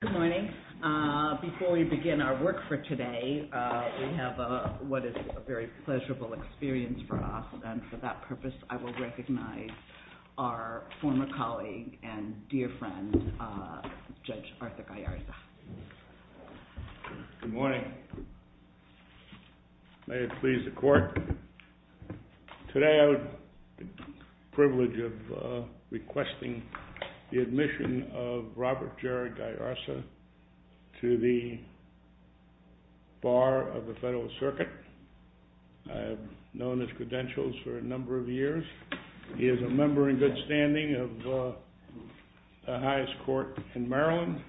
Good morning. Before we begin our work for today, we have what is a very pleasurable experience for us. And for that purpose, I will recognize our former colleague and dear friend, Judge Arthur Gallarza. Good morning. May it please the Court. Today I have the privilege of requesting the admission of Robert Gerard Gallarza to the Bar of the Federal Circuit. I have known his credentials for a number of years. He is a member in good standing of the highest court in Maryland.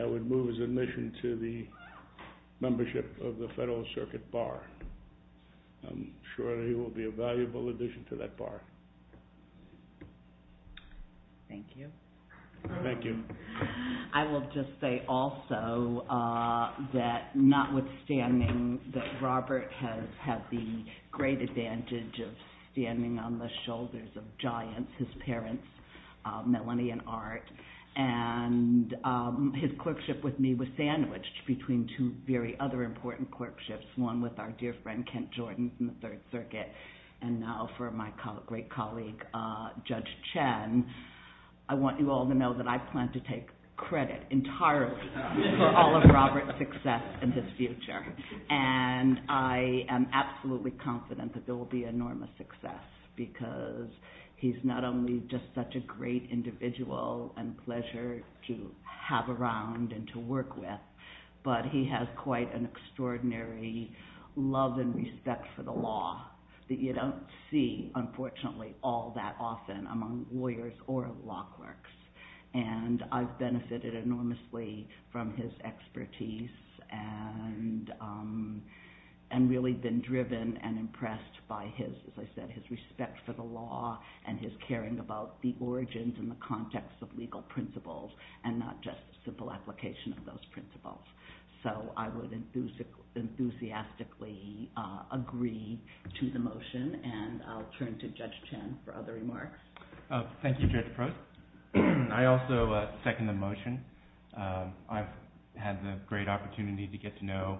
I would move his admission to the membership of the Federal Circuit Bar. I'm sure he will be a valuable addition to that bar. Thank you. Thank you. I will just say also that notwithstanding that Robert has had the great advantage of standing on the shoulders of giants, his parents, Melanie and Art, and his clerkship with me was sandwiched between two very other important clerkships, one with our dear friend Kent Jordan from the Third Circuit, and now for my great colleague, Judge Chen, I want you all to know that I plan to take credit entirely for all of Robert's success in his future. I am absolutely confident that there will be enormous success because he's not only just such a great individual and pleasure to have around and to work with, but he has quite an extraordinary love and respect for the law that you don't see, unfortunately, all that often among lawyers or law clerks. And I've benefited enormously from his expertise and really been driven and impressed by his, as I said, his respect for the law and his caring about the origins and the context of legal principles and not just simple application of those principles. So I would enthusiastically agree to the motion, and I'll turn to Judge Chen for other remarks. Thank you, Judge Prost. I also second the motion. I've had the great opportunity to get to know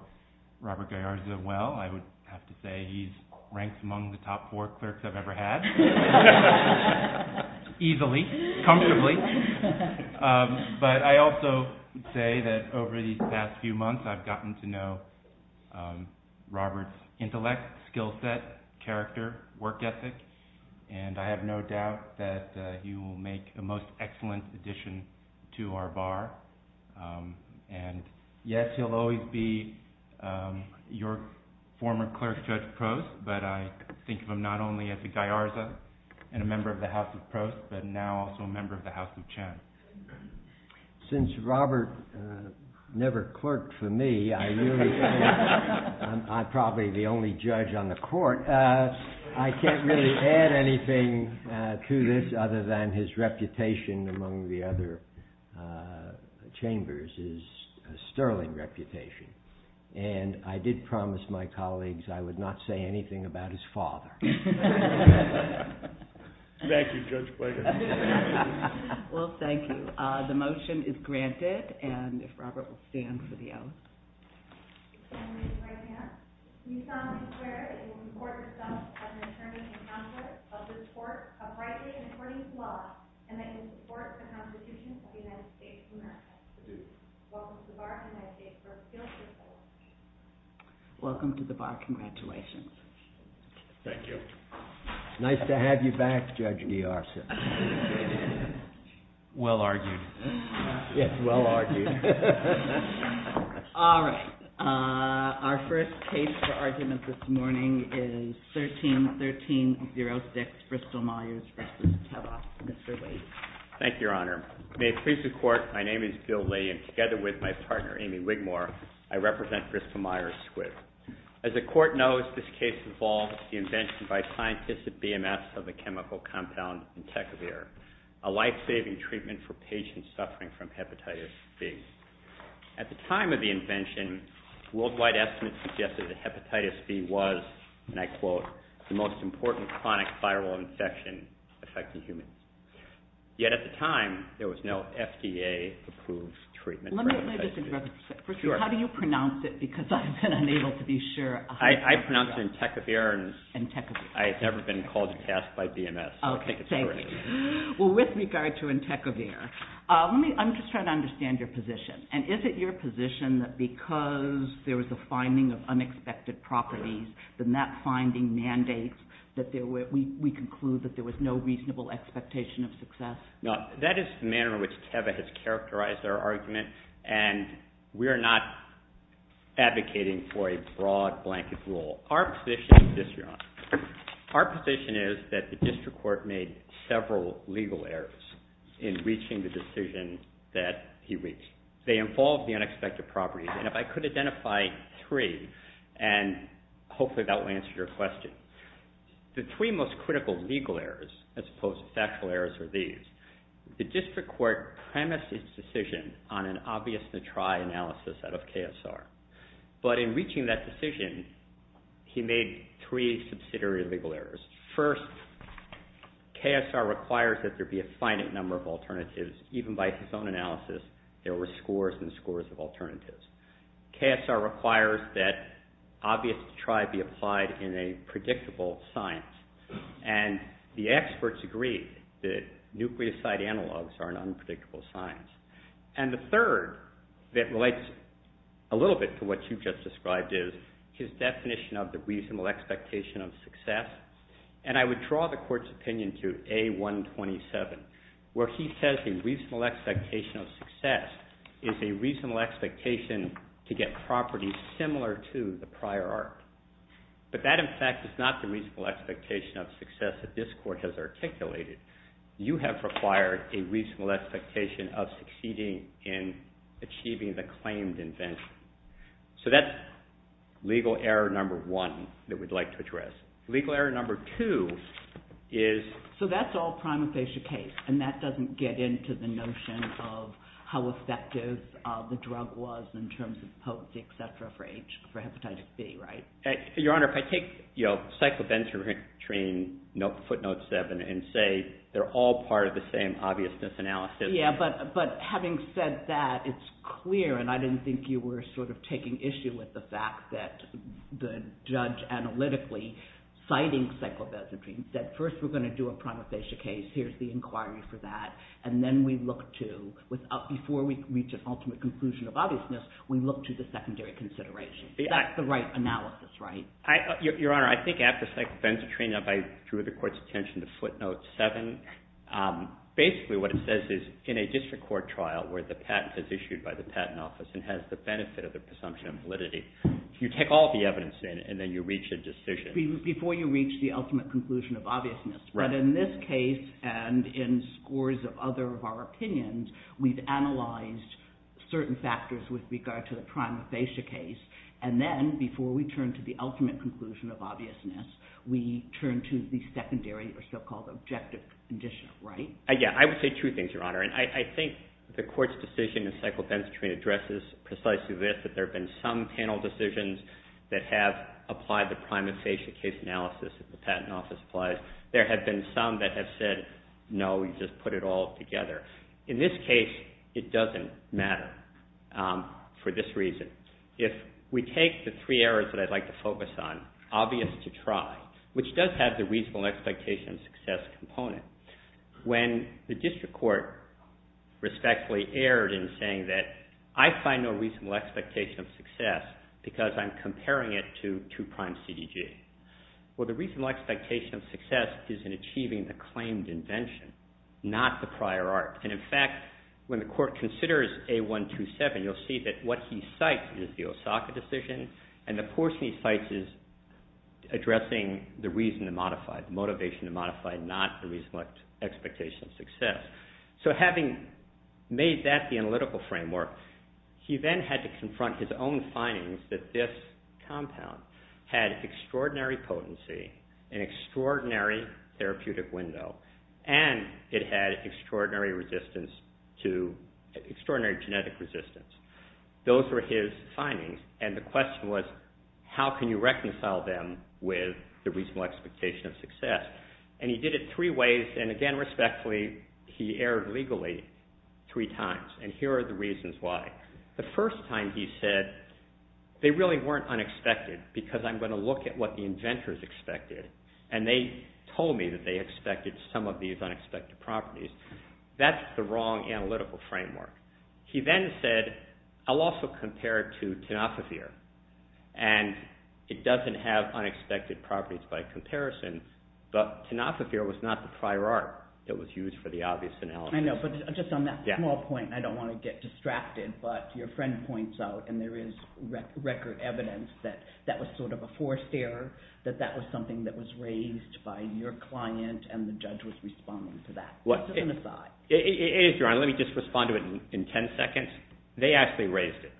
Robert Gallarza well. I would have to say he's ranked among the top four clerks I've ever had, easily, comfortably. But I also would say that over these past few months, I've gotten to know Robert's intellect, skill set, character, work ethic, and I have no doubt that he will make a most excellent addition to our bar. And yes, he'll always be your former clerk, Judge Prost, but I think of him not only as a Gallarza and a member of the House of Prost, but now also a member of the House of Chen. Since Robert never clerked for me, I really think I'm probably the only judge on the court. I can't really add anything to this other than his reputation among the other chambers is a sterling reputation. And I did promise my colleagues I would not say anything about his father. Thank you, Judge Blank. Well, thank you. The motion is granted, and if Robert will stand for the oath. Welcome to the bar. Congratulations. Thank you. Nice to have you back, Judge Niarsen. Well argued. Yes, well argued. All right. Our first case for argument this morning is 13-1306, Bristol Myers v. Telloff. Mr. Lee. Thank you, Your Honor. May it please the Court, my name is Bill Lee, and together with my partner, Amy Wigmore, I represent Bristol Myers Squibb. As the Court knows, this case involves the invention by scientists at BMS of a chemical compound, Intekvir, a life-saving treatment for patients suffering from hepatitis B. At the time of the invention, worldwide estimates suggested that hepatitis B was, and I quote, the most important chronic viral infection affecting humans. Yet at the time, there was no FDA-approved treatment for hepatitis B. First of all, how do you pronounce it? Because I've been unable to be sure. I pronounce it Intekvir. Intekvir. I've never been called to task by BMS, so I think it's correct. Well, with regard to Intekvir, I'm just trying to understand your position. And is it your position that because there was a finding of unexpected properties, then that finding mandates that we conclude that there was no reasonable expectation of success? No, that is the manner in which Teva has characterized our argument, and we are not advocating for a broad blanket rule. Our position is this, Your Honor. Our position is that the district court made several legal errors in reaching the decision that he reached. They involved the unexpected properties, and if I could identify three, and hopefully that will answer your question. The three most critical legal errors, as opposed to factual errors, are these. The district court premised its decision on an obvious-to-try analysis out of KSR. But in reaching that decision, he made three subsidiary legal errors. First, KSR requires that there be a finite number of alternatives. Even by his own analysis, there were scores and scores of alternatives. KSR requires that obvious-to-try be applied in a predictable science. And the experts agree that nucleoside analogs are an unpredictable science. And the third, that relates a little bit to what you just described, is his definition of the reasonable expectation of success. And I would draw the Court's opinion to A127, where he says the reasonable expectation of success is a reasonable expectation to get properties similar to the prior art. But that, in fact, is not the reasonable expectation of success that this Court has articulated. You have required a reasonable expectation of succeeding in achieving the claimed invention. So that's legal error number one that we'd like to address. Legal error number two is... And that doesn't get into the notion of how effective the drug was in terms of potency, et cetera, for hepatitis B, right? Your Honor, if I take cyclobenzatrine footnote seven and say they're all part of the same obviousness analysis... Yeah, but having said that, it's clear, and I didn't think you were sort of taking issue with the fact that the judge analytically citing cyclobenzatrine said, first we're going to do a prima facie case, here's the inquiry for that, and then we look to, before we reach an ultimate conclusion of obviousness, we look to the secondary consideration. That's the right analysis, right? Your Honor, I think after cyclobenzatrine, if I drew the Court's attention to footnote seven, basically what it says is, in a district court trial where the patent is issued by the patent office and has the benefit of the presumption of validity, you take all the evidence in and then you reach a decision... Before you reach the ultimate conclusion of obviousness. But in this case, and in scores of other of our opinions, we've analyzed certain factors with regard to the prima facie case, and then, before we turn to the ultimate conclusion of obviousness, we turn to the secondary or so-called objective condition, right? Yeah, I would say two things, Your Honor. I think the Court's decision in cyclobenzatrine addresses precisely this, that there have been some panel decisions that have applied the prima facie case analysis that the patent office applies. There have been some that have said, no, you just put it all together. In this case, it doesn't matter for this reason. If we take the three areas that I'd like to focus on, obvious to try, which does have the reasonable expectation of success component, when the district court respectfully erred in saying that, I find no reasonable expectation of success because I'm comparing it to two-prime CDG. Well, the reasonable expectation of success is in achieving the claimed invention, not the prior art. And, in fact, when the Court considers A127, you'll see that what he cites is the Osaka decision, and the portion he cites is addressing the reason to modify, the motivation to modify, not the reasonable expectation of success. So having made that the analytical framework, he then had to confront his own findings that this compound had extraordinary potency, an extraordinary therapeutic window, and it had extraordinary genetic resistance. Those were his findings, and the question was, how can you reconcile them with the reasonable expectation of success? And he did it three ways, and, again, respectfully, he erred legally three times, and here are the reasons why. The first time he said, they really weren't unexpected because I'm going to look at what the inventors expected, and they told me that they expected some of these unexpected properties. That's the wrong analytical framework. He then said, I'll also compare it to Tenofovir, and it doesn't have unexpected properties by comparison, but Tenofovir was not the prior art that was used for the obvious analysis. I know, but just on that small point, I don't want to get distracted, but your friend points out, and there is record evidence, that that was sort of a forced error, that that was something that was raised by your client, and the judge was responding to that. It is, Your Honor. Let me just respond to it in 10 seconds. They actually raised it,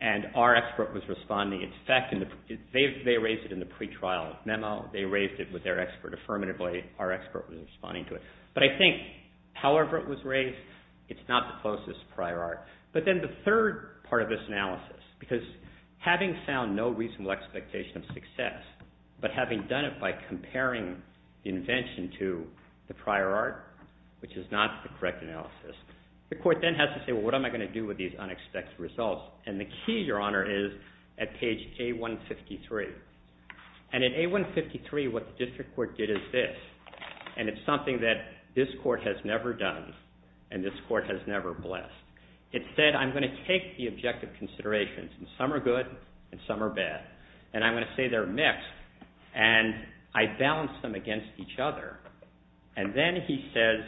and our expert was responding. In fact, they raised it in the pretrial memo. They raised it with their expert affirmatively. Our expert was responding to it. But I think, however it was raised, it's not the closest prior art. But then the third part of this analysis, because having found no reasonable expectation of success, but having done it by comparing the invention to the prior art, which is not the correct analysis, the court then has to say, well, what am I going to do with these unexpected results? And the key, Your Honor, is at page A153. And in A153, what the district court did is this, and it's something that this court has never done, and this court has never blessed. It said, I'm going to take the objective considerations, and some are good and some are bad, and I'm going to say they're mixed, and I balance them against each other. And then he says,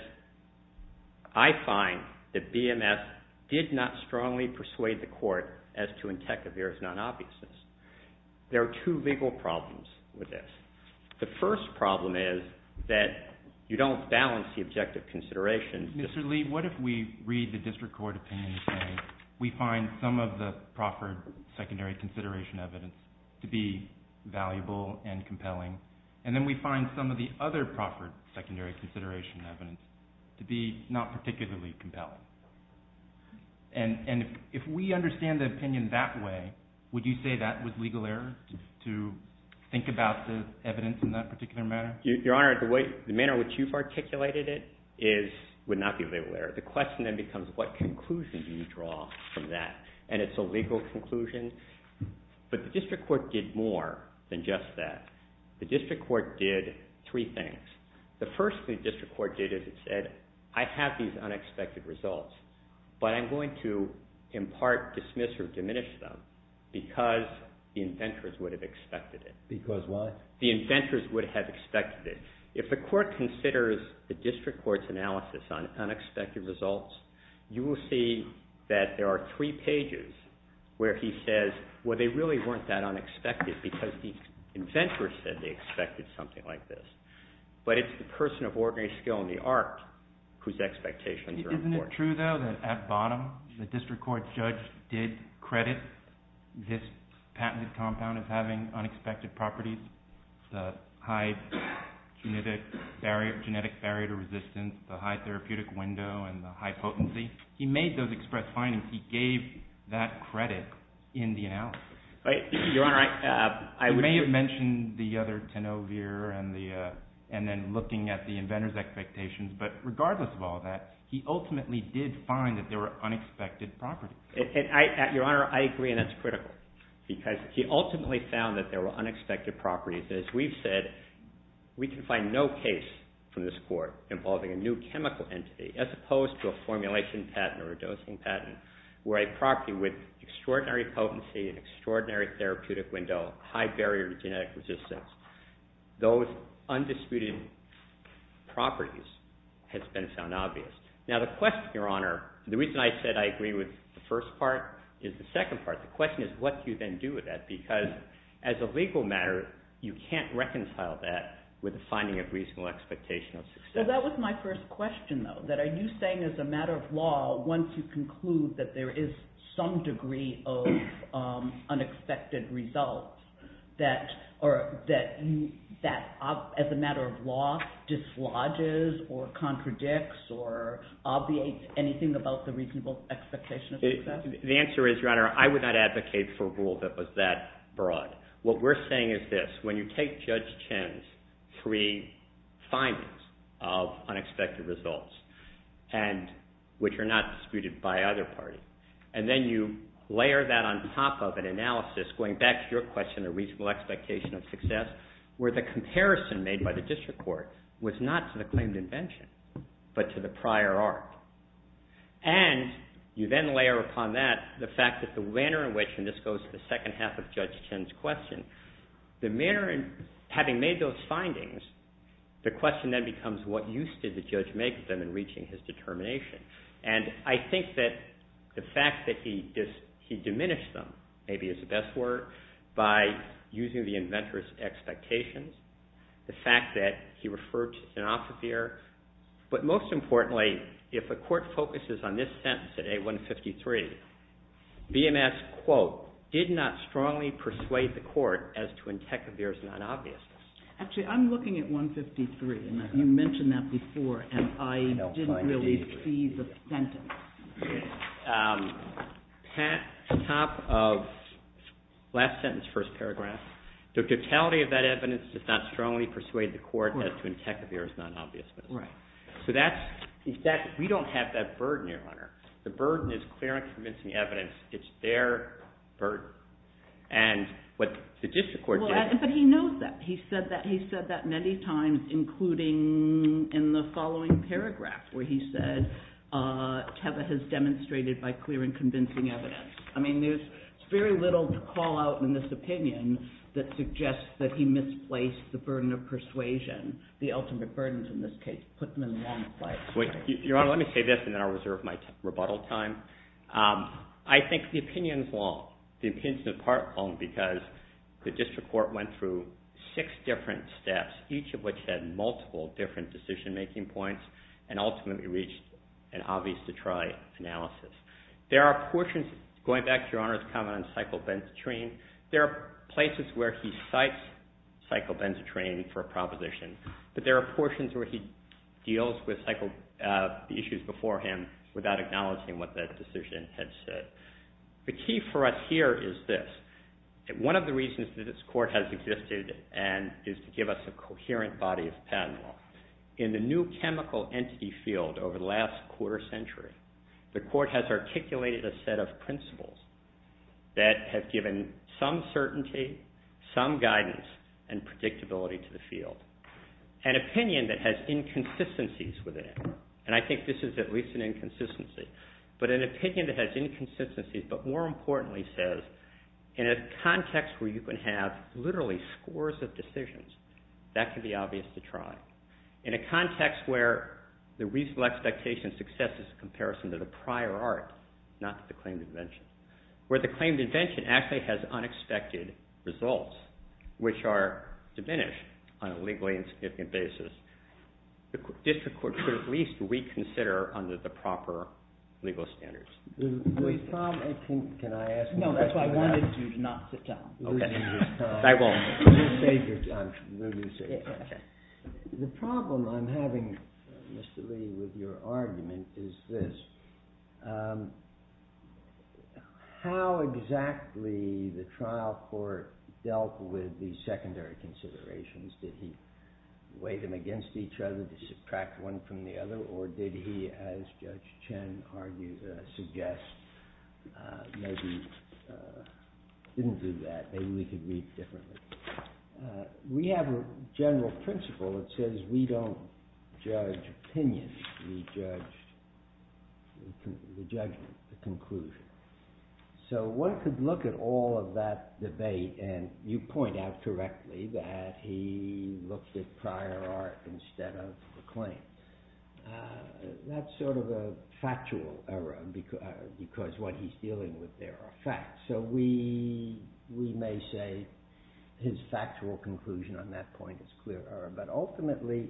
I find that BMS did not strongly persuade the court as to Entechevier's non-obviousness. There are two legal problems with this. The first problem is that you don't balance the objective considerations. Mr. Lee, what if we read the district court opinion and say we find some of the proffered secondary consideration evidence to be valuable and compelling, and then we find some of the other proffered secondary consideration evidence to be not particularly compelling? And if we understand the opinion that way, would you say that was legal error to think about the evidence in that particular manner? Your Honor, the manner in which you've articulated it would not be legal error. The question then becomes, what conclusion do you draw from that? And it's a legal conclusion. But the district court did more than just that. The district court did three things. The first thing the district court did is it said, I have these unexpected results, but I'm going to in part dismiss or diminish them because the inventors would have expected it. Because what? The inventors would have expected it. If the court considers the district court's analysis on unexpected results, you will see that there are three pages where he says, well, they really weren't that unexpected because the inventors said they expected something like this. But it's the person of ordinary skill in the art whose expectations are important. Isn't it true, though, that at bottom, the district court judge did credit this patented compound of having unexpected properties, the high genetic barrier to resistance, the high therapeutic window, and the high potency? He made those express findings. He gave that credit in the analysis. Your Honor, I would... I may have mentioned the other tenovier and then looking at the inventors' expectations, but regardless of all that, he ultimately did find that there were unexpected properties. Your Honor, I agree, and that's critical because he ultimately found that there were unexpected properties. As we've said, we can find no case from this court involving a new chemical entity as opposed to a formulation patent or a dosing patent where a property with extraordinary potency, an extraordinary therapeutic window, high barrier to genetic resistance, those undisputed properties has been found obvious. Now, the question, Your Honor... The reason I said I agree with the first part is the second part. The question is, what do you then do with that? Because as a legal matter, you can't reconcile that with the finding of reasonable expectation of success. Well, that was my first question, though, that are you saying as a matter of law once you conclude that there is some degree of unexpected results that, as a matter of law, dislodges or contradicts or obviates anything about the reasonable expectation of success? The answer is, Your Honor, I would not advocate for a rule that was that broad. What we're saying is this. When you take Judge Chin's three findings of unexpected results, which are not disputed by either party, and then you layer that on top of an analysis, going back to your question of reasonable expectation of success, where the comparison made by the district court was not to the claimed invention, but to the prior arc. And you then layer upon that the fact that the manner in which, and this goes to the second half of Judge Chin's question, the manner in having made those findings, the question then becomes what use did the judge make of them in reaching his determination? And I think that the fact that he diminished them maybe is the best word, by using the inventor's expectations, the fact that he referred to Sanofibeer, but most importantly, if a court focuses on this sentence today, 153, BMS, quote, did not strongly persuade the court as to Antecobeer's non-obviousness. Actually, I'm looking at 153, and you mentioned that before, and I didn't really see the sentence. Top of last sentence, first paragraph, the totality of that evidence does not strongly persuade the court as to Antecobeer's non-obviousness. So we don't have that burden here, Hunter. The burden is clear and convincing evidence. It's their burden. And what the district court did... But he knows that. He said that many times, including in the following paragraph, where he said Teva has demonstrated by clear and convincing evidence. I mean, there's very little to call out in this opinion that suggests that he misplaced the burden of persuasion, the ultimate burdens in this case, put them in the wrong place. Your Honor, let me say this, and then I'll reserve my rebuttal time. I think the opinion's long. The opinion's in part long because the district court went through six different steps, each of which had multiple different decision-making points, and ultimately reached an obvious-to-try analysis. There are portions... Going back to Your Honor's comment on cyclobenzetrine, there are places where he cites cyclobenzetrine for a proposition, but there are portions where he deals with the issues before him without acknowledging what that decision had said. The key for us here is this. One of the reasons that this court has existed is to give us a coherent body of patent law. In the new chemical entity field over the last quarter century, the court has articulated a set of principles that have given some certainty, some guidance, and predictability to the field. An opinion that has inconsistencies with it, and I think this is at least an inconsistency, but an opinion that has inconsistencies but more importantly says, in a context where you can have literally scores of decisions, that can be obvious-to-try. In a context where the reasonable expectation of success is a comparison to the prior art, not to the claimed invention, where the claimed invention actually has unexpected results, which are diminished on a legally insignificant basis, the district court should at least reconsider under the proper legal standards. Louis Tom, I think... Can I ask you a question? No, that's why I wanted you to not sit down. Okay. I won't. I'm going to save your time. The problem I'm having, Mr. Lee, with your argument is this. How exactly the trial court dealt with these secondary considerations? Did he weigh them against each other to subtract one from the other, or did he, as Judge Chen argues, suggests, maybe didn't do that, maybe we could read differently. We have a general principle that says we don't judge opinion, we judge the judgment, the conclusion. So one could look at all of that debate and you point out correctly that he looked at prior art instead of the claim. That's sort of a factual error because what he's dealing with there are facts. So we may say his factual conclusion on that point is clear error, but ultimately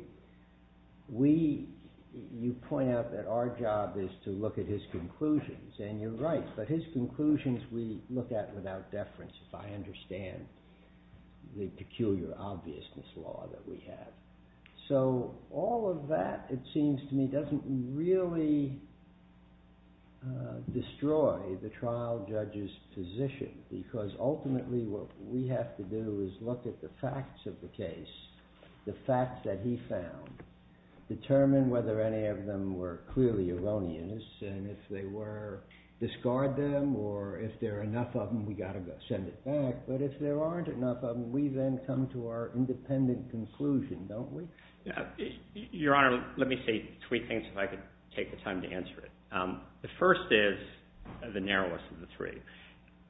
you point out that our job is to look at his conclusions, and you're right, but his conclusions we look at without deference if I understand the peculiar obviousness law that we have. So all of that, it seems to me, doesn't really destroy the trial judge's position because ultimately what we have to do is look at the facts of the case, the facts that he found, determine whether any of them were clearly erroneous, and if they were, discard them, or if there are enough of them, we've got to send it back, but if there aren't enough of them, we then come to our independent conclusion, don't we? Your Honor, let me say three things if I could take the time to answer it. The first is the narrowest of the three.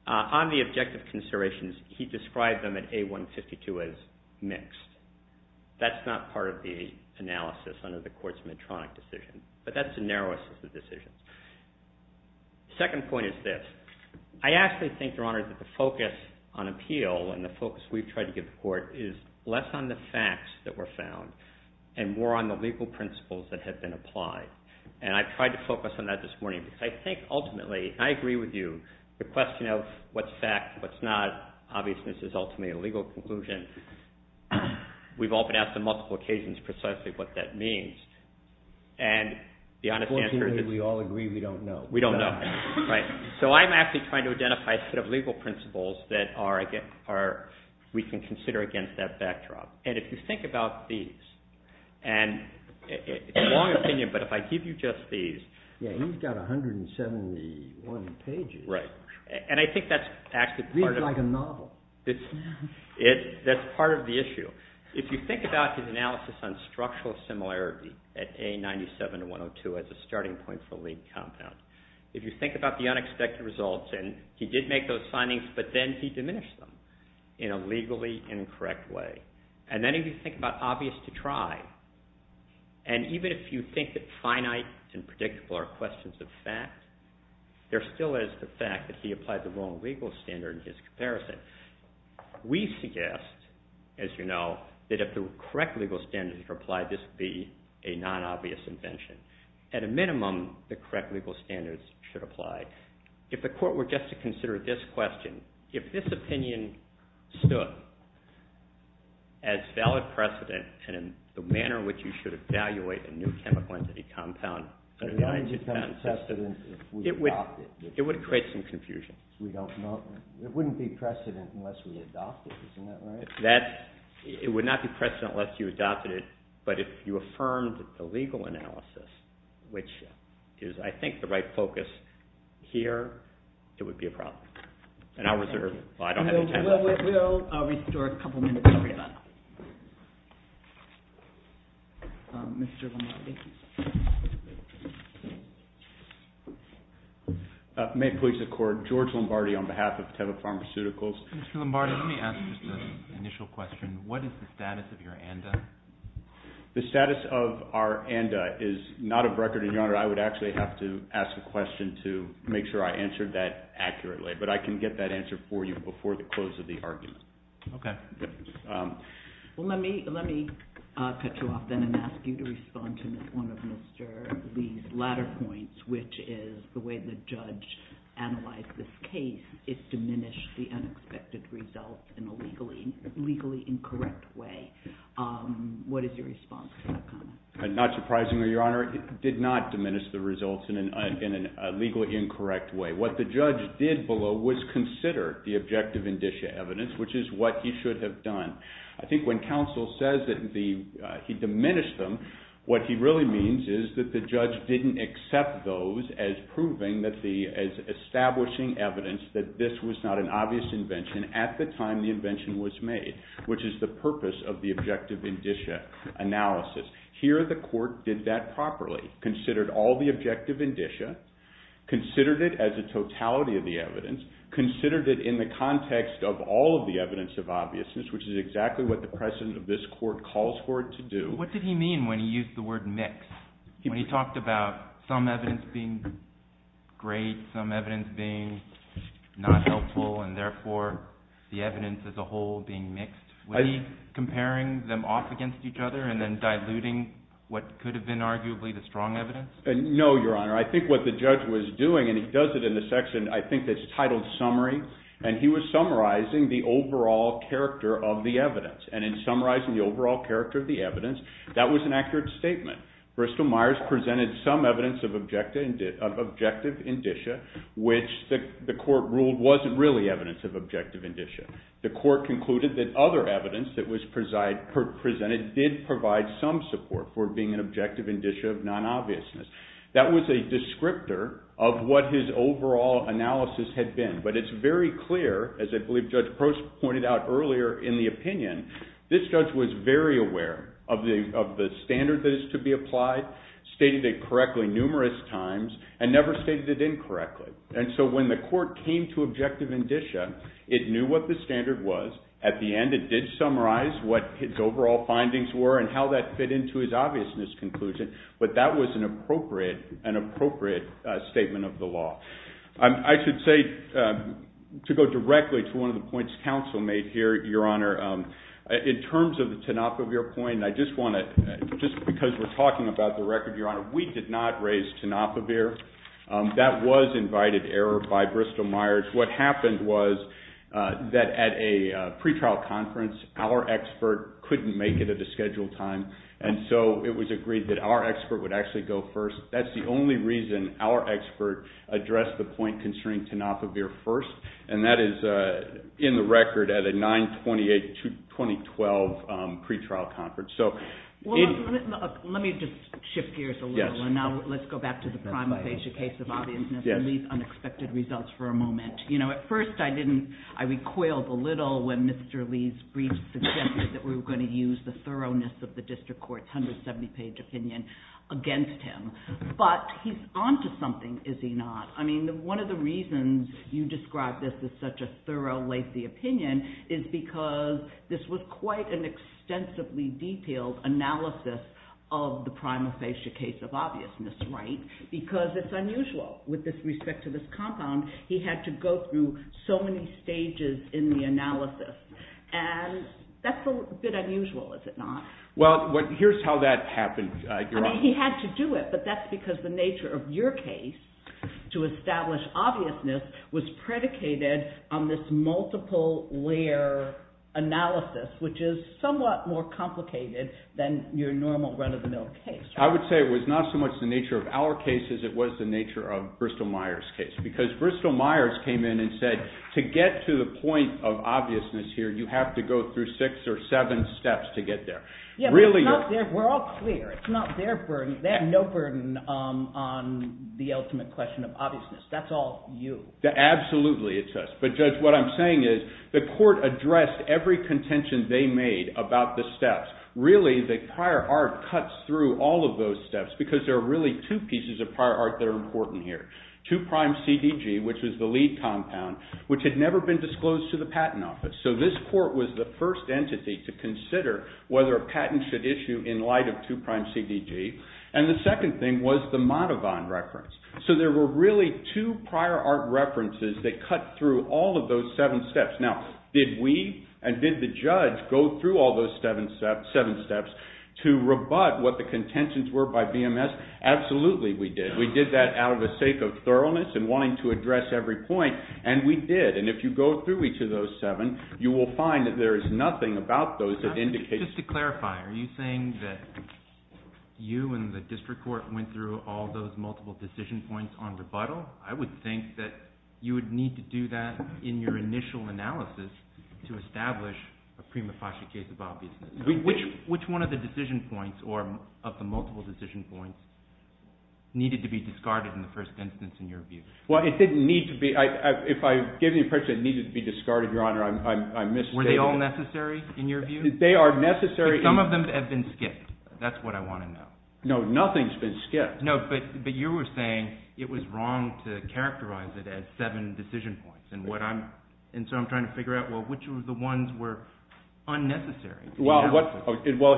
On the objective considerations, he described them at A152 as mixed. That's not part of the analysis under the court's Medtronic decision, but that's the narrowest of the decisions. The second point is this. I actually think, Your Honor, that the focus on appeal and the focus we've tried to give the court is less on the facts that were found and more on the legal principles that have been applied, and I've tried to focus on that this morning because I think ultimately, and I agree with you, the question of what's fact and what's not, obviously this is ultimately a legal conclusion. We've all been asked on multiple occasions precisely what that means, and the honest answer is... Unfortunately, we all agree we don't know. We don't know, right. So I'm actually trying to identify a set of legal principles that we can consider against that backdrop, and if you think about these, and it's a long opinion, but if I give you just these... Yeah, he's got 171 pages. Right, and I think that's actually part of... It reads like a novel. That's part of the issue. If you think about his analysis on structural similarity at A97 to 102 as a starting point for a legal compound, if you think about the unexpected results, and he did make those findings, but then he diminished them in a legally incorrect way, and then if you think about obvious to try, and even if you think that finite and predictable are questions of fact, there still is the fact that he applied the wrong legal standard in his comparison. We suggest, as you know, that if the correct legal standards were applied, this would be a non-obvious invention. At a minimum, the correct legal standards should apply. If the court were just to consider this question, if this opinion stood as valid precedent and in the manner in which you should evaluate a new chemical entity compound... Why would you call it precedent if we adopted it? It would create some confusion. We don't know. It wouldn't be precedent unless we adopted it. Isn't that right? It would not be precedent unless you adopted it, but if you affirmed the legal analysis, which is, I think, the right focus here, it would be a problem. And I'll reserve... Well, I don't have any time left. We'll restore a couple minutes for rebuttal. Mr. Lombardi. May it please the Court, George Lombardi on behalf of Teva Pharmaceuticals. Mr. Lombardi, let me ask just an initial question. What is the status of your ANDA? The status of our ANDA is not of record, Your Honor. I would actually have to ask a question to make sure I answered that accurately, but I can get that answer for you before the close of the argument. Okay. Well, let me cut you off then and ask you to respond to one of Mr. Lee's latter points, which is the way the judge analyzed this case. It diminished the unexpected results in a legally incorrect way. What is your response to that comment? Not surprisingly, Your Honor, it did not diminish the results in a legally incorrect way. What the judge did below was consider the objective indicia evidence, which is what he should have done. I think when counsel says that he diminished them, what he really means is that the judge didn't accept those as proving, as establishing evidence that this was not an obvious invention at the time the invention was made, which is the purpose of the objective indicia analysis. Here the court did that properly, considered all the objective indicia, considered it as a totality of the evidence, considered it in the context of all of the evidence of obviousness, which is exactly what the precedent of this court calls for it to do. What did he mean when he used the word mix? When he talked about some evidence being great, some evidence being not helpful, and therefore the evidence as a whole being mixed, was he comparing them off against each other and then diluting what could have been arguably the strong evidence? No, Your Honor. I think what the judge was doing, and he does it in the section I think that's titled Summary, and he was summarizing the overall character of the evidence. And in summarizing the overall character of the evidence, that was an accurate statement. Bristol Myers presented some evidence of objective indicia, which the court ruled wasn't really evidence of objective indicia. The court concluded that other evidence that was presented did provide some support for being an objective indicia of non-obviousness. That was a descriptor of what his overall analysis had been, but it's very clear, as I believe Judge Prost pointed out earlier in the opinion, this judge was very aware of the standard that is to be applied, stated it correctly numerous times, and never stated it incorrectly. And so when the court came to objective indicia, it knew what the standard was. At the end, it did summarize what his overall findings were and how that fit into his obviousness conclusion, but that was an appropriate statement of the law. I should say, to go directly to one of the points counsel made here, Your Honor, in terms of the Tanofovir point, just because we're talking about the record, Your Honor, we did not raise Tanofovir. That was invited error by Bristol-Myers. What happened was that at a pretrial conference, our expert couldn't make it at a scheduled time, and so it was agreed that our expert would actually go first. That's the only reason our expert addressed the point concerning Tanofovir first, and that is in the record at a 9-28-2012 pretrial conference. Let me just shift gears a little, and now let's go back to the Prima facie case of obviousness and leave unexpected results for a moment. At first, I recoiled a little when Mr. Lee's brief suggested that we were going to use the thoroughness of the district court's 170-page opinion against him, but he's on to something, is he not? I mean, one of the reasons you describe this as such a thorough, lacy opinion is because this was quite an extensively detailed analysis of the Prima facie case of obviousness, right? Because it's unusual with respect to this compound. He had to go through so many stages in the analysis, and that's a bit unusual, is it not? Well, here's how that happened. I mean, he had to do it, but that's because the nature of your case to establish obviousness was predicated on this multiple-layer analysis, which is somewhat more complicated than your normal run-of-the-mill case. I would say it was not so much the nature of our cases, it was the nature of Bristol-Myers' case, because Bristol-Myers came in and said, to get to the point of obviousness here, you have to go through six or seven steps to get there. Yeah, but we're all clear, it's not their burden. They have no burden on the ultimate question of obviousness. That's all you. Absolutely, it's us. But, Judge, what I'm saying is, the court addressed every contention they made about the steps. Really, the prior art cuts through all of those steps because there are really two pieces of prior art that are important here. Two-prime CDG, which was the lead compound, which had never been disclosed to the Patent Office. So this court was the first entity to consider whether a patent should issue in light of two-prime CDG. And the second thing was the Madovan reference. So there were really two prior art references that cut through all of those seven steps. Now, did we and did the judge go through all those seven steps to rebut what the contentions were by BMS? Absolutely, we did. We did that out of a sake of thoroughness and wanting to address every point, and we did. And if you go through each of those seven, you will find that there is nothing about those that indicates... Just to clarify, are you saying that you and the district court went through all those multiple decision points on rebuttal? I would think that you would need to do that in your initial analysis to establish a prima facie case of obviousness. Which one of the decision points, or of the multiple decision points, needed to be discarded in the first instance, in your view? Well, it didn't need to be. If I give the impression it needed to be discarded, Your Honour, I'm misstating. Were they all necessary, in your view? They are necessary. But some of them have been skipped. That's what I want to know. No, nothing's been skipped. No, but you were saying it was wrong to characterize it as seven decision points, and so I'm trying to figure out, well, which of the ones were unnecessary? Well,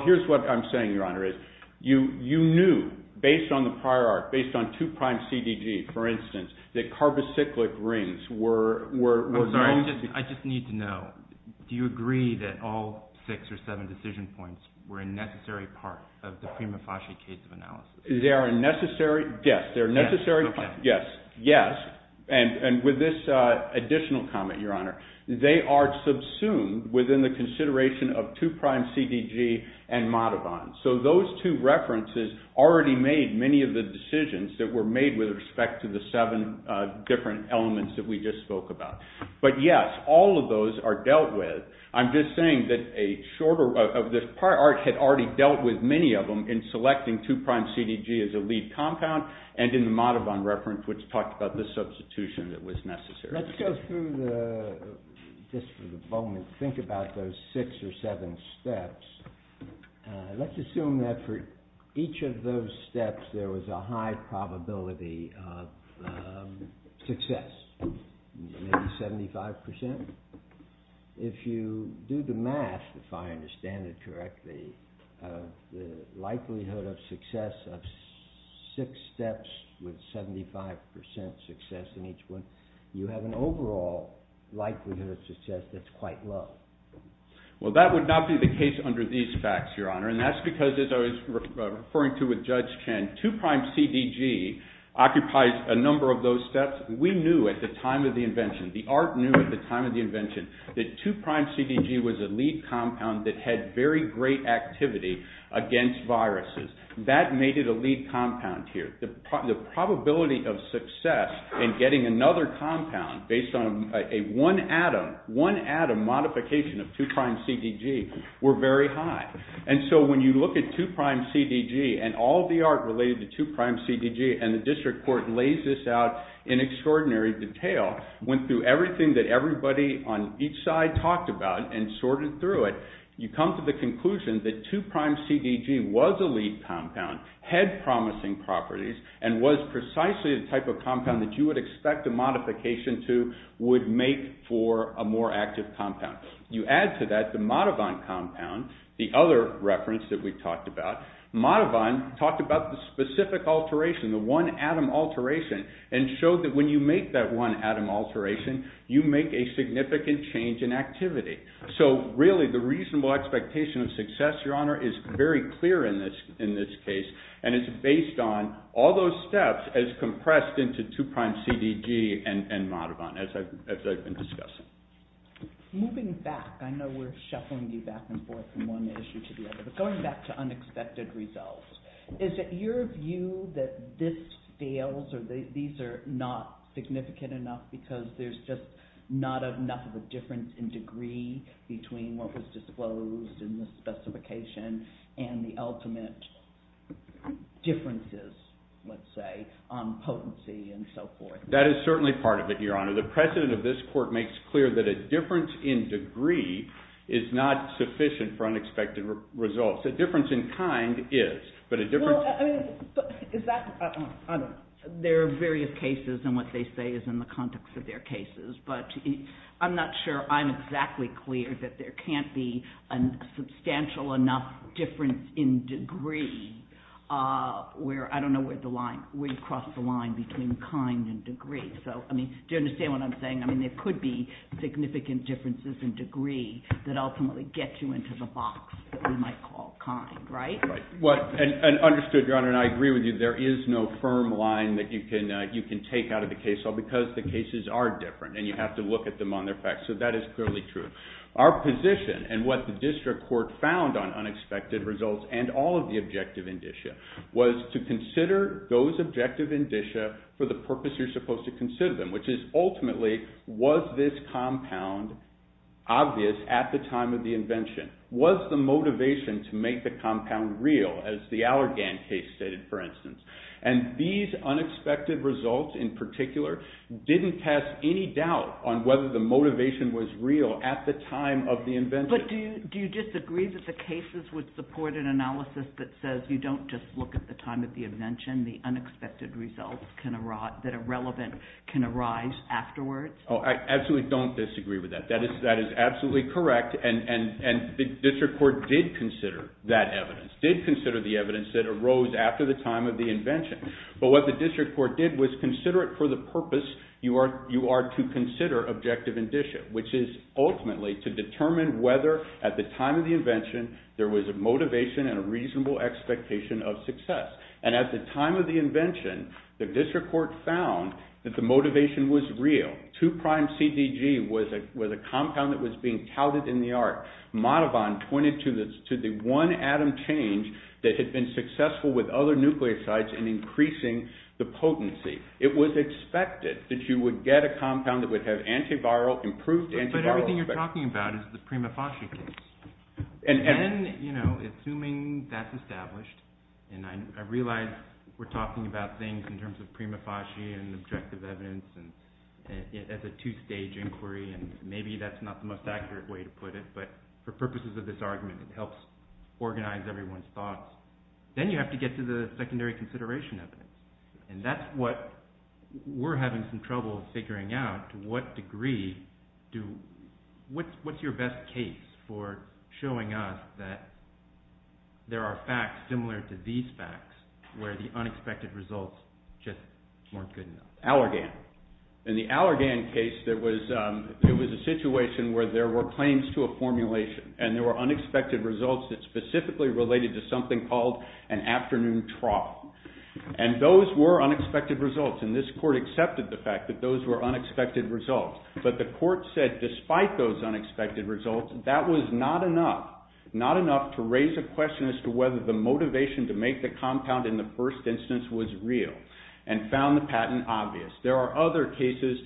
here's what I'm saying, Your Honour, is you knew, based on the prior art, based on 2' CDG, for instance, that carbocyclic rings were... I'm sorry, I just need to know. Do you agree that all six or seven decision points were a necessary part of the prima facie case of analysis? They are a necessary... Yes, they're a necessary... Yes, okay. Yes, yes. And with this additional comment, Your Honour, they are subsumed within the consideration of 2' CDG and Modavon. So those two references already made many of the decisions that were made with respect to the seven different elements that we just spoke about. But, yes, all of those are dealt with. I'm just saying that a shorter... The prior art had already dealt with many of them in selecting 2' CDG as a lead compound, and in the Modavon reference, which talked about the substitution that was necessary. Let's go through the... Just for the moment, think about those six or seven steps. Let's assume that for each of those steps there was a high probability of success, maybe 75%. If you do the math, if I understand it correctly, the likelihood of success of six steps with 75% success in each one, you have an overall likelihood of success that's quite low. Well, that would not be the case under these facts, Your Honour, and that's because, as I was referring to with Judge Chen, 2' CDG occupies a number of those steps. We knew at the time of the invention, the art knew at the time of the invention, that 2' CDG was a lead compound that had very great activity against viruses. That made it a lead compound here. The probability of success in getting another compound based on a one-atom modification of 2' CDG were very high. And so when you look at 2' CDG and all the art related to 2' CDG, and the District Court lays this out in extraordinary detail, went through everything that everybody on each side talked about and sorted through it, you come to the conclusion that 2' CDG was a lead compound, had promising properties, and was precisely the type of compound that you would expect a modification to would make for a more active compound. You add to that the Madovan compound, the other reference that we talked about. Madovan talked about the specific alteration, the one-atom alteration, and showed that when you make that one-atom alteration, you make a significant change in activity. So really, the reasonable expectation of success, Your Honor, is very clear in this case, and it's based on all those steps as compressed into 2' CDG and Madovan, as I've been discussing. Moving back, I know we're shuffling you back and forth from one issue to the other, but going back to unexpected results, is it your view that this fails or these are not significant enough because there's just not enough of a difference in degree between what was disclosed in the specification and the ultimate differences, let's say, on potency and so forth? That is certainly part of it, Your Honor. The precedent of this court makes clear that a difference in degree is not sufficient for unexpected results. A difference in kind is, but a difference... There are various cases, and what they say is in the context of their cases, but I'm not sure I'm exactly clear that there can't be a substantial enough difference in degree where, I don't know, where you cross the line between kind and degree. Do you understand what I'm saying? There could be significant differences in degree that ultimately get you into the box that we might call kind, right? Understood, Your Honor, and I agree with you. There is no firm line that you can take out of the case because the cases are different and you have to look at them on their facts, so that is clearly true. Our position and what the district court found on unexpected results and all of the objective indicia was to consider those objective indicia for the purpose you're supposed to consider them, which is ultimately, was this compound obvious at the time of the invention? Was the motivation to make the compound real, as the Allergan case stated, for instance? And these unexpected results, in particular, didn't cast any doubt on whether the motivation was real at the time of the invention. But do you disagree that the cases would support an analysis that says you don't just look at the time of the invention, the unexpected results that are relevant can arise afterwards? Oh, I absolutely don't disagree with that. That is absolutely correct, and the district court did consider that evidence, did consider the evidence that arose after the time of the invention. But what the district court did was consider it for the purpose you are to consider objective indicia, which is ultimately to determine whether at the time of the invention there was a motivation and a reasonable expectation of success. And at the time of the invention, the district court found that the motivation was real. Two-prime CDG was a compound that was being touted in the art. Madovan pointed to the one atom change that had been successful with other nucleosides in increasing the potency. It was expected that you would get a compound that would have improved antiviral effect. But everything you're talking about is the Prima Facie case. And then, you know, assuming that's established, and I realize we're talking about things in terms of Prima Facie and objective evidence, and as a two-stage inquiry, and maybe that's not the most accurate way to put it, but for purposes of this argument, it helps organize everyone's thoughts. Then you have to get to the secondary consideration of it. And that's what we're having some trouble figuring out to what degree do... What's your best case for showing us that there are facts similar to these facts where the unexpected results just weren't good enough? Allergan. In the Allergan case, there was a situation where there were claims to a formulation, and there were unexpected results that specifically related to something called an afternoon trough. And those were unexpected results, and this court accepted the fact that those were unexpected results. But the court said, despite those unexpected results, that was not enough, not enough to raise a question as to whether the motivation to make the compound in the first instance was real, and found the patent obvious. There are other cases,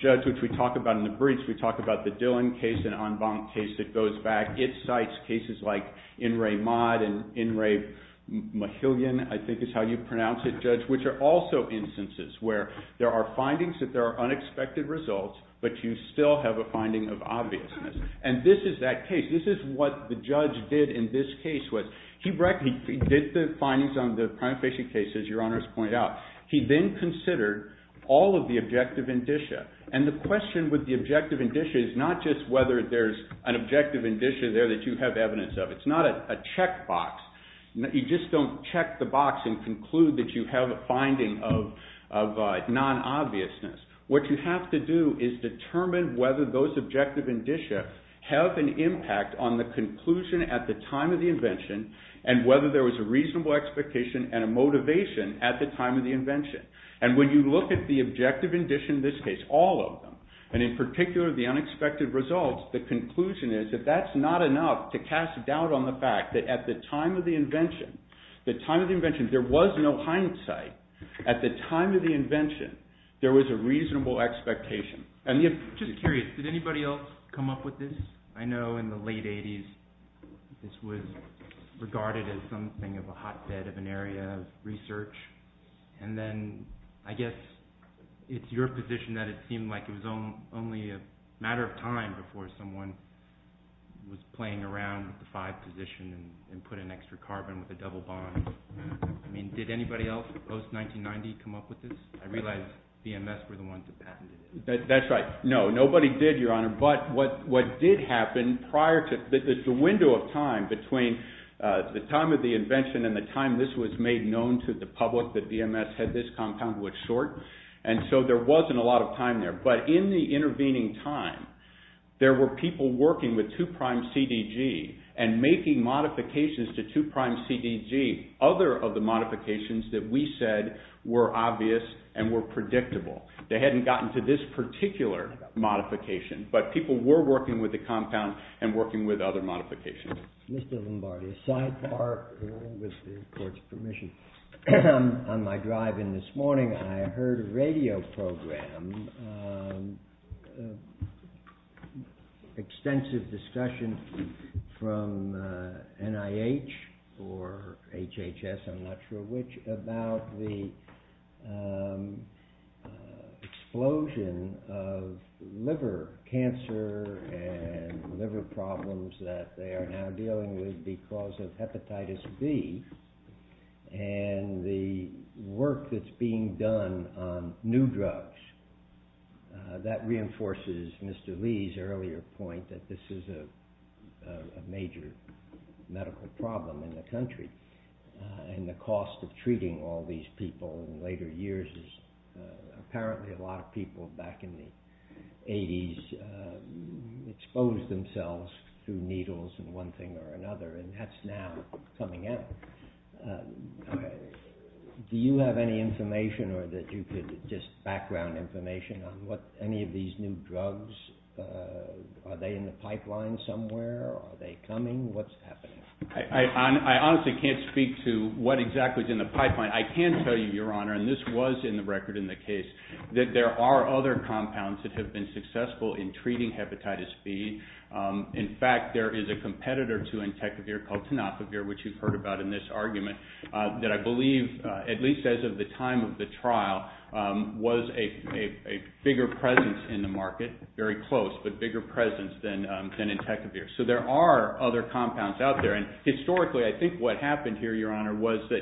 Judge, which we talk about in the briefs. We talk about the Dillon case, an en banc case that goes back. It cites cases like In re Maude and In re Mahillion, I think is how you pronounce it, Judge, which are also instances where there are findings that there are unexpected results, but you still have a finding of obviousness. And this is that case. This is what the judge did in this case. He did the findings on the prima facie cases, as your honors point out. He then considered all of the objective indicia. And the question with the objective indicia is not just whether there's an objective indicia there that you have evidence of. It's not a checkbox. You just don't check the box and conclude that you have a finding of non-obviousness. What you have to do is determine whether those objective indicia have an impact on the conclusion at the time of the invention, and whether there was a reasonable expectation and a motivation at the time of the invention. And when you look at the objective indicia in this case, all of them, and in particular, the unexpected results, the conclusion is that that's not enough to cast doubt on the fact that at the time of the invention, there was no hindsight. At the time of the invention, there was a reasonable expectation. I'm just curious. Did anybody else come up with this? I know in the late 80s, this was regarded as something of a hotbed of an area of research, and then I guess it's your position that it seemed like it was only a matter of time before someone was playing around with the five position and put an extra carbon with a double bond. I mean, did anybody else post-1990 come up with this? I realize VMS were the ones that patented it. That's right. No, nobody did, Your Honor, but what did happen prior to... There's a window of time between the time of the invention and the time this was made known to the public that VMS had this compound which short, and so there wasn't a lot of time there, but in the intervening time, there were people working with 2'-CDG and making modifications to 2'-CDG. Other of the modifications that we said were obvious and were predictable. They hadn't gotten to this particular modification, but people were working with the compound and working with other modifications. Mr. Lombardi, a sidebar with the court's permission. On my drive in this morning, I heard a radio program, extensive discussion from NIH or HHS, I'm not sure which, about the explosion of liver cancer and liver problems that they are now dealing with because of hepatitis B and the work that's being done on new drugs. That reinforces Mr. Lee's earlier point that this is a major medical problem in the country and the cost of treating all these people in later years apparently a lot of people back in the 80s exposed themselves through needles in one thing or another and that's now coming out. Do you have any information or that you could just background information on what any of these new drugs, are they in the pipeline somewhere? Are they coming? What's happening? I can tell you, Your Honor, and this was in the record in the case, that there are other compounds that have been successful in treating hepatitis B. In fact, there is a competitor to Entecavir called Tenofovir, which you've heard about in this argument, that I believe, at least as of the time of the trial, was a bigger presence in the market, very close, but bigger presence than Entecavir. So there are other compounds out there and historically I think what happened here, Your Honor, was that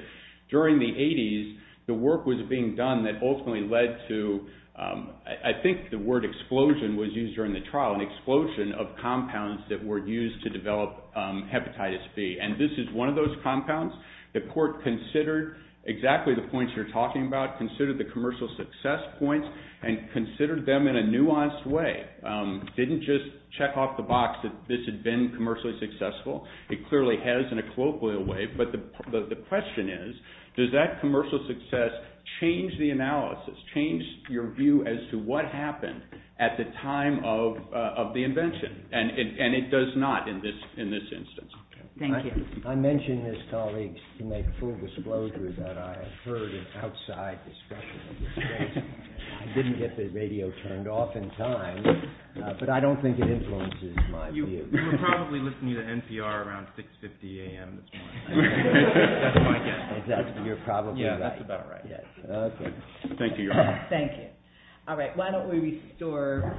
during the 80s the work was being done that ultimately led to, I think the word explosion was used during the trial, an explosion of compounds that were used to develop hepatitis B and this is one of those compounds. The court considered exactly the points you're talking about, considered the commercial success points and considered them in a nuanced way. It didn't just check off the box that this had been commercially successful. It clearly has in a colloquial way, but the question is, does that commercial success change the analysis, change your view as to what happened at the time of the invention? And it does not in this instance. Thank you. I mentioned this, colleagues, to make full disclosure that I heard an outside discussion of this case. I didn't get the radio turned off in time, but I don't think it influences my view. We're probably listening to NPR around 6.50 a.m. That's my guess. Exactly, you're probably right. Yeah, that's about right. Thank you, Your Honor. Thank you. All right, why don't we restore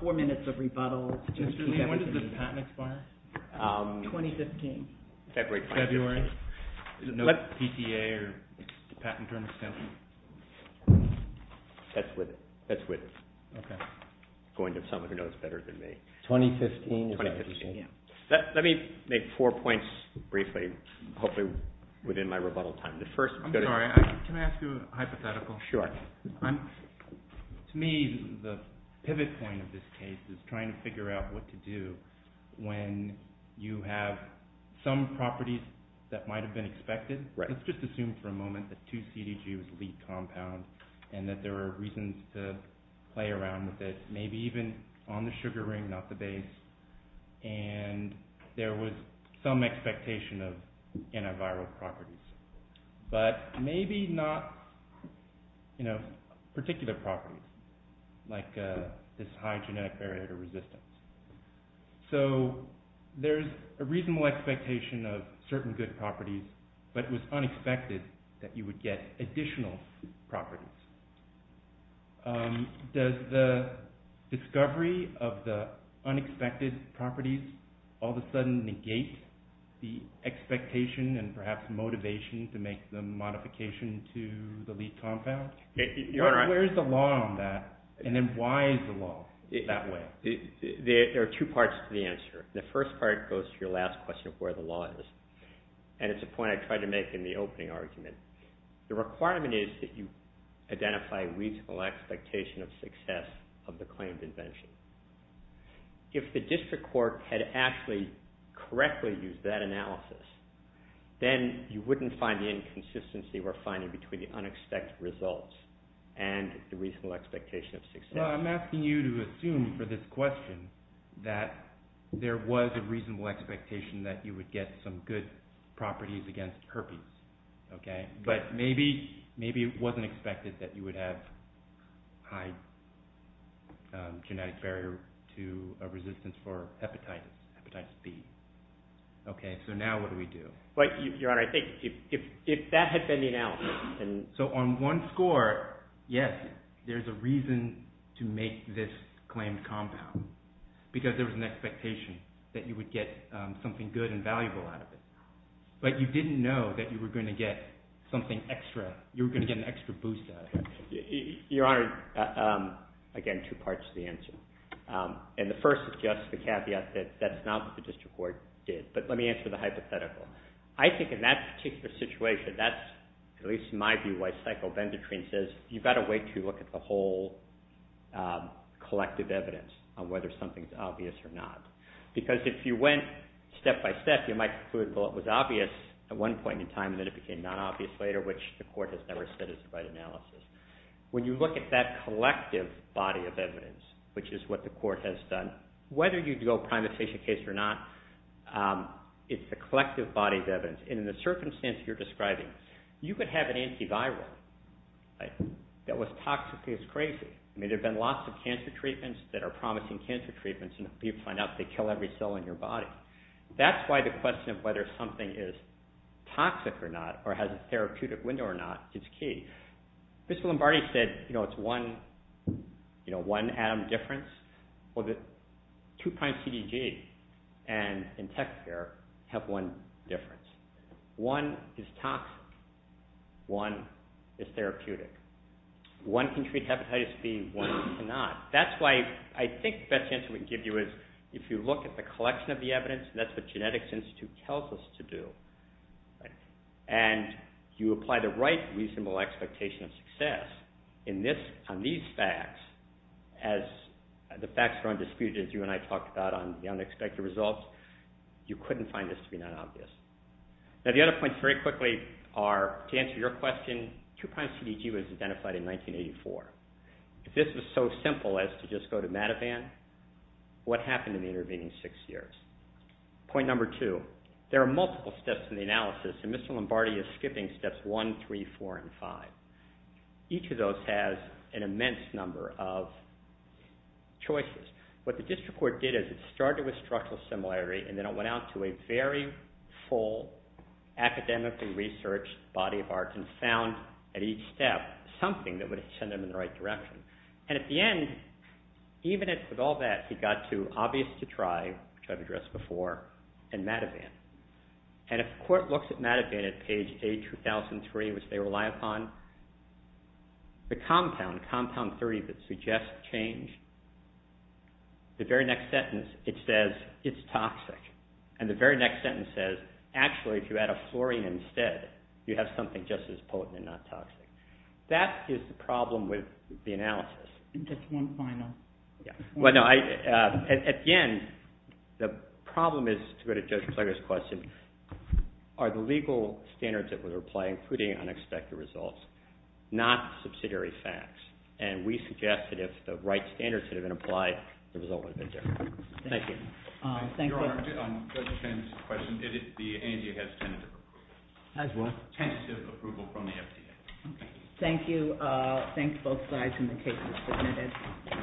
four minutes of rebuttal. Mr. Lee, when did this patent expire? 2015. February. February? No PTA or patent term extension? That's with it. That's with it. Okay. Going to someone who knows better than me. 2015? 2015, yeah. Let me make four points briefly, hopefully within my rebuttal time. I'm sorry, can I ask you a hypothetical? Sure. To me, the pivot point of this case is trying to figure out what to do when you have some properties that might have been expected. Let's just assume for a moment that 2-CDG was the lead compound and that there are reasons to play around with it, maybe even on the sugar ring, not the base, and there was some expectation of antiviral properties, but maybe not particular properties like this high genetic barrier to resistance. So there's a reasonable expectation of certain good properties, but it was unexpected that you would get additional properties. Does the discovery of the unexpected properties all of a sudden negate the expectation and perhaps motivation to make the modification to the lead compound? Where's the law on that, and then why is the law that way? There are two parts to the answer. The first part goes to your last question of where the law is, and it's a point I tried to make in the opening argument. The requirement is that you identify a reasonable expectation of success of the claimed invention. If the district court had actually correctly used that analysis, then you wouldn't find the inconsistency we're finding between the unexpected results and the reasonable expectation of success. I'm asking you to assume for this question that there was a reasonable expectation that you would get some good properties against herpes. But maybe it wasn't expected that you would have high genetic barrier to a resistance for hepatitis B. So now what do we do? Your Honor, I think if that had been the analysis... So on one score, yes, there's a reason to make this claimed compound, because there was an expectation that you would get something good and valuable out of it. But you didn't know that you were going to get something extra. You were going to get an extra boost out of it. Your Honor, again, two parts to the answer. And the first is just the caveat that that's not what the district court did. But let me answer the hypothetical. I think in that particular situation, that's, at least in my view, why Psychobendotrin says you've got to wait until you look at the whole collective evidence on whether something's obvious or not. Because if you went step by step, you might conclude, well, it was obvious at one point in time, and then it became non-obvious later, which the court has never said is the right analysis. When you look at that collective body of evidence, which is what the court has done, whether you go prime the patient case or not, it's the collective body of evidence. And in the circumstance you're describing, you could have an antiviral that was toxicly as crazy. I mean, there have been lots of cancer treatments that are promising cancer treatments, and you find out they kill every cell in your body. That's why the question of whether something is toxic or not or has a therapeutic window or not is key. Mr. Lombardi said, you know, it's one atom difference. Well, the 2'-CDG and in tech care have one difference. One is toxic. One is therapeutic. One can treat hepatitis B. One cannot. That's why I think the best answer we can give you is if you look at the collection of the evidence, and that's what Genetics Institute tells us to do, and you apply the right reasonable expectation of success on these facts, as the facts are undisputed, as you and I talked about on the unexpected results, you couldn't find this to be non-obvious. Now, the other points, very quickly, are, to answer your question, 2'-CDG was identified in 1984. If this was so simple as to just go to Madivan, what happened in the intervening 6 years? Point number 2, there are multiple steps in the analysis, and Mr. Lombardi is skipping steps 1, 3, 4, and 5. Each of those has an immense number of choices. What the district court did is it started with structural similarity, and then it went out to a very full academically researched body of art and found, at each step, something that would send them in the right direction. And at the end, even with all that, he got to obvious to try, which I've addressed before, and Madivan. And if the court looks at Madivan at page A2003, which they rely upon, the compound, compound 3, that suggests change, the very next sentence, it says, it's toxic. And the very next sentence says, actually, if you add a fluorine instead, you have something just as potent and not toxic. That is the problem with the analysis. Just one final. Again, the problem is, to go to Judge Plager's question, are the legal standards that were applied, including unexpected results, not subsidiary facts? And we suggest that if the right standards had been applied, the result would have been different. Thank you. Your Honor, on Judge Chen's question, the ANDA has tentative approval. Has what? Tentative approval from the FDA. Thank you. Thanks, both sides, and the case is submitted.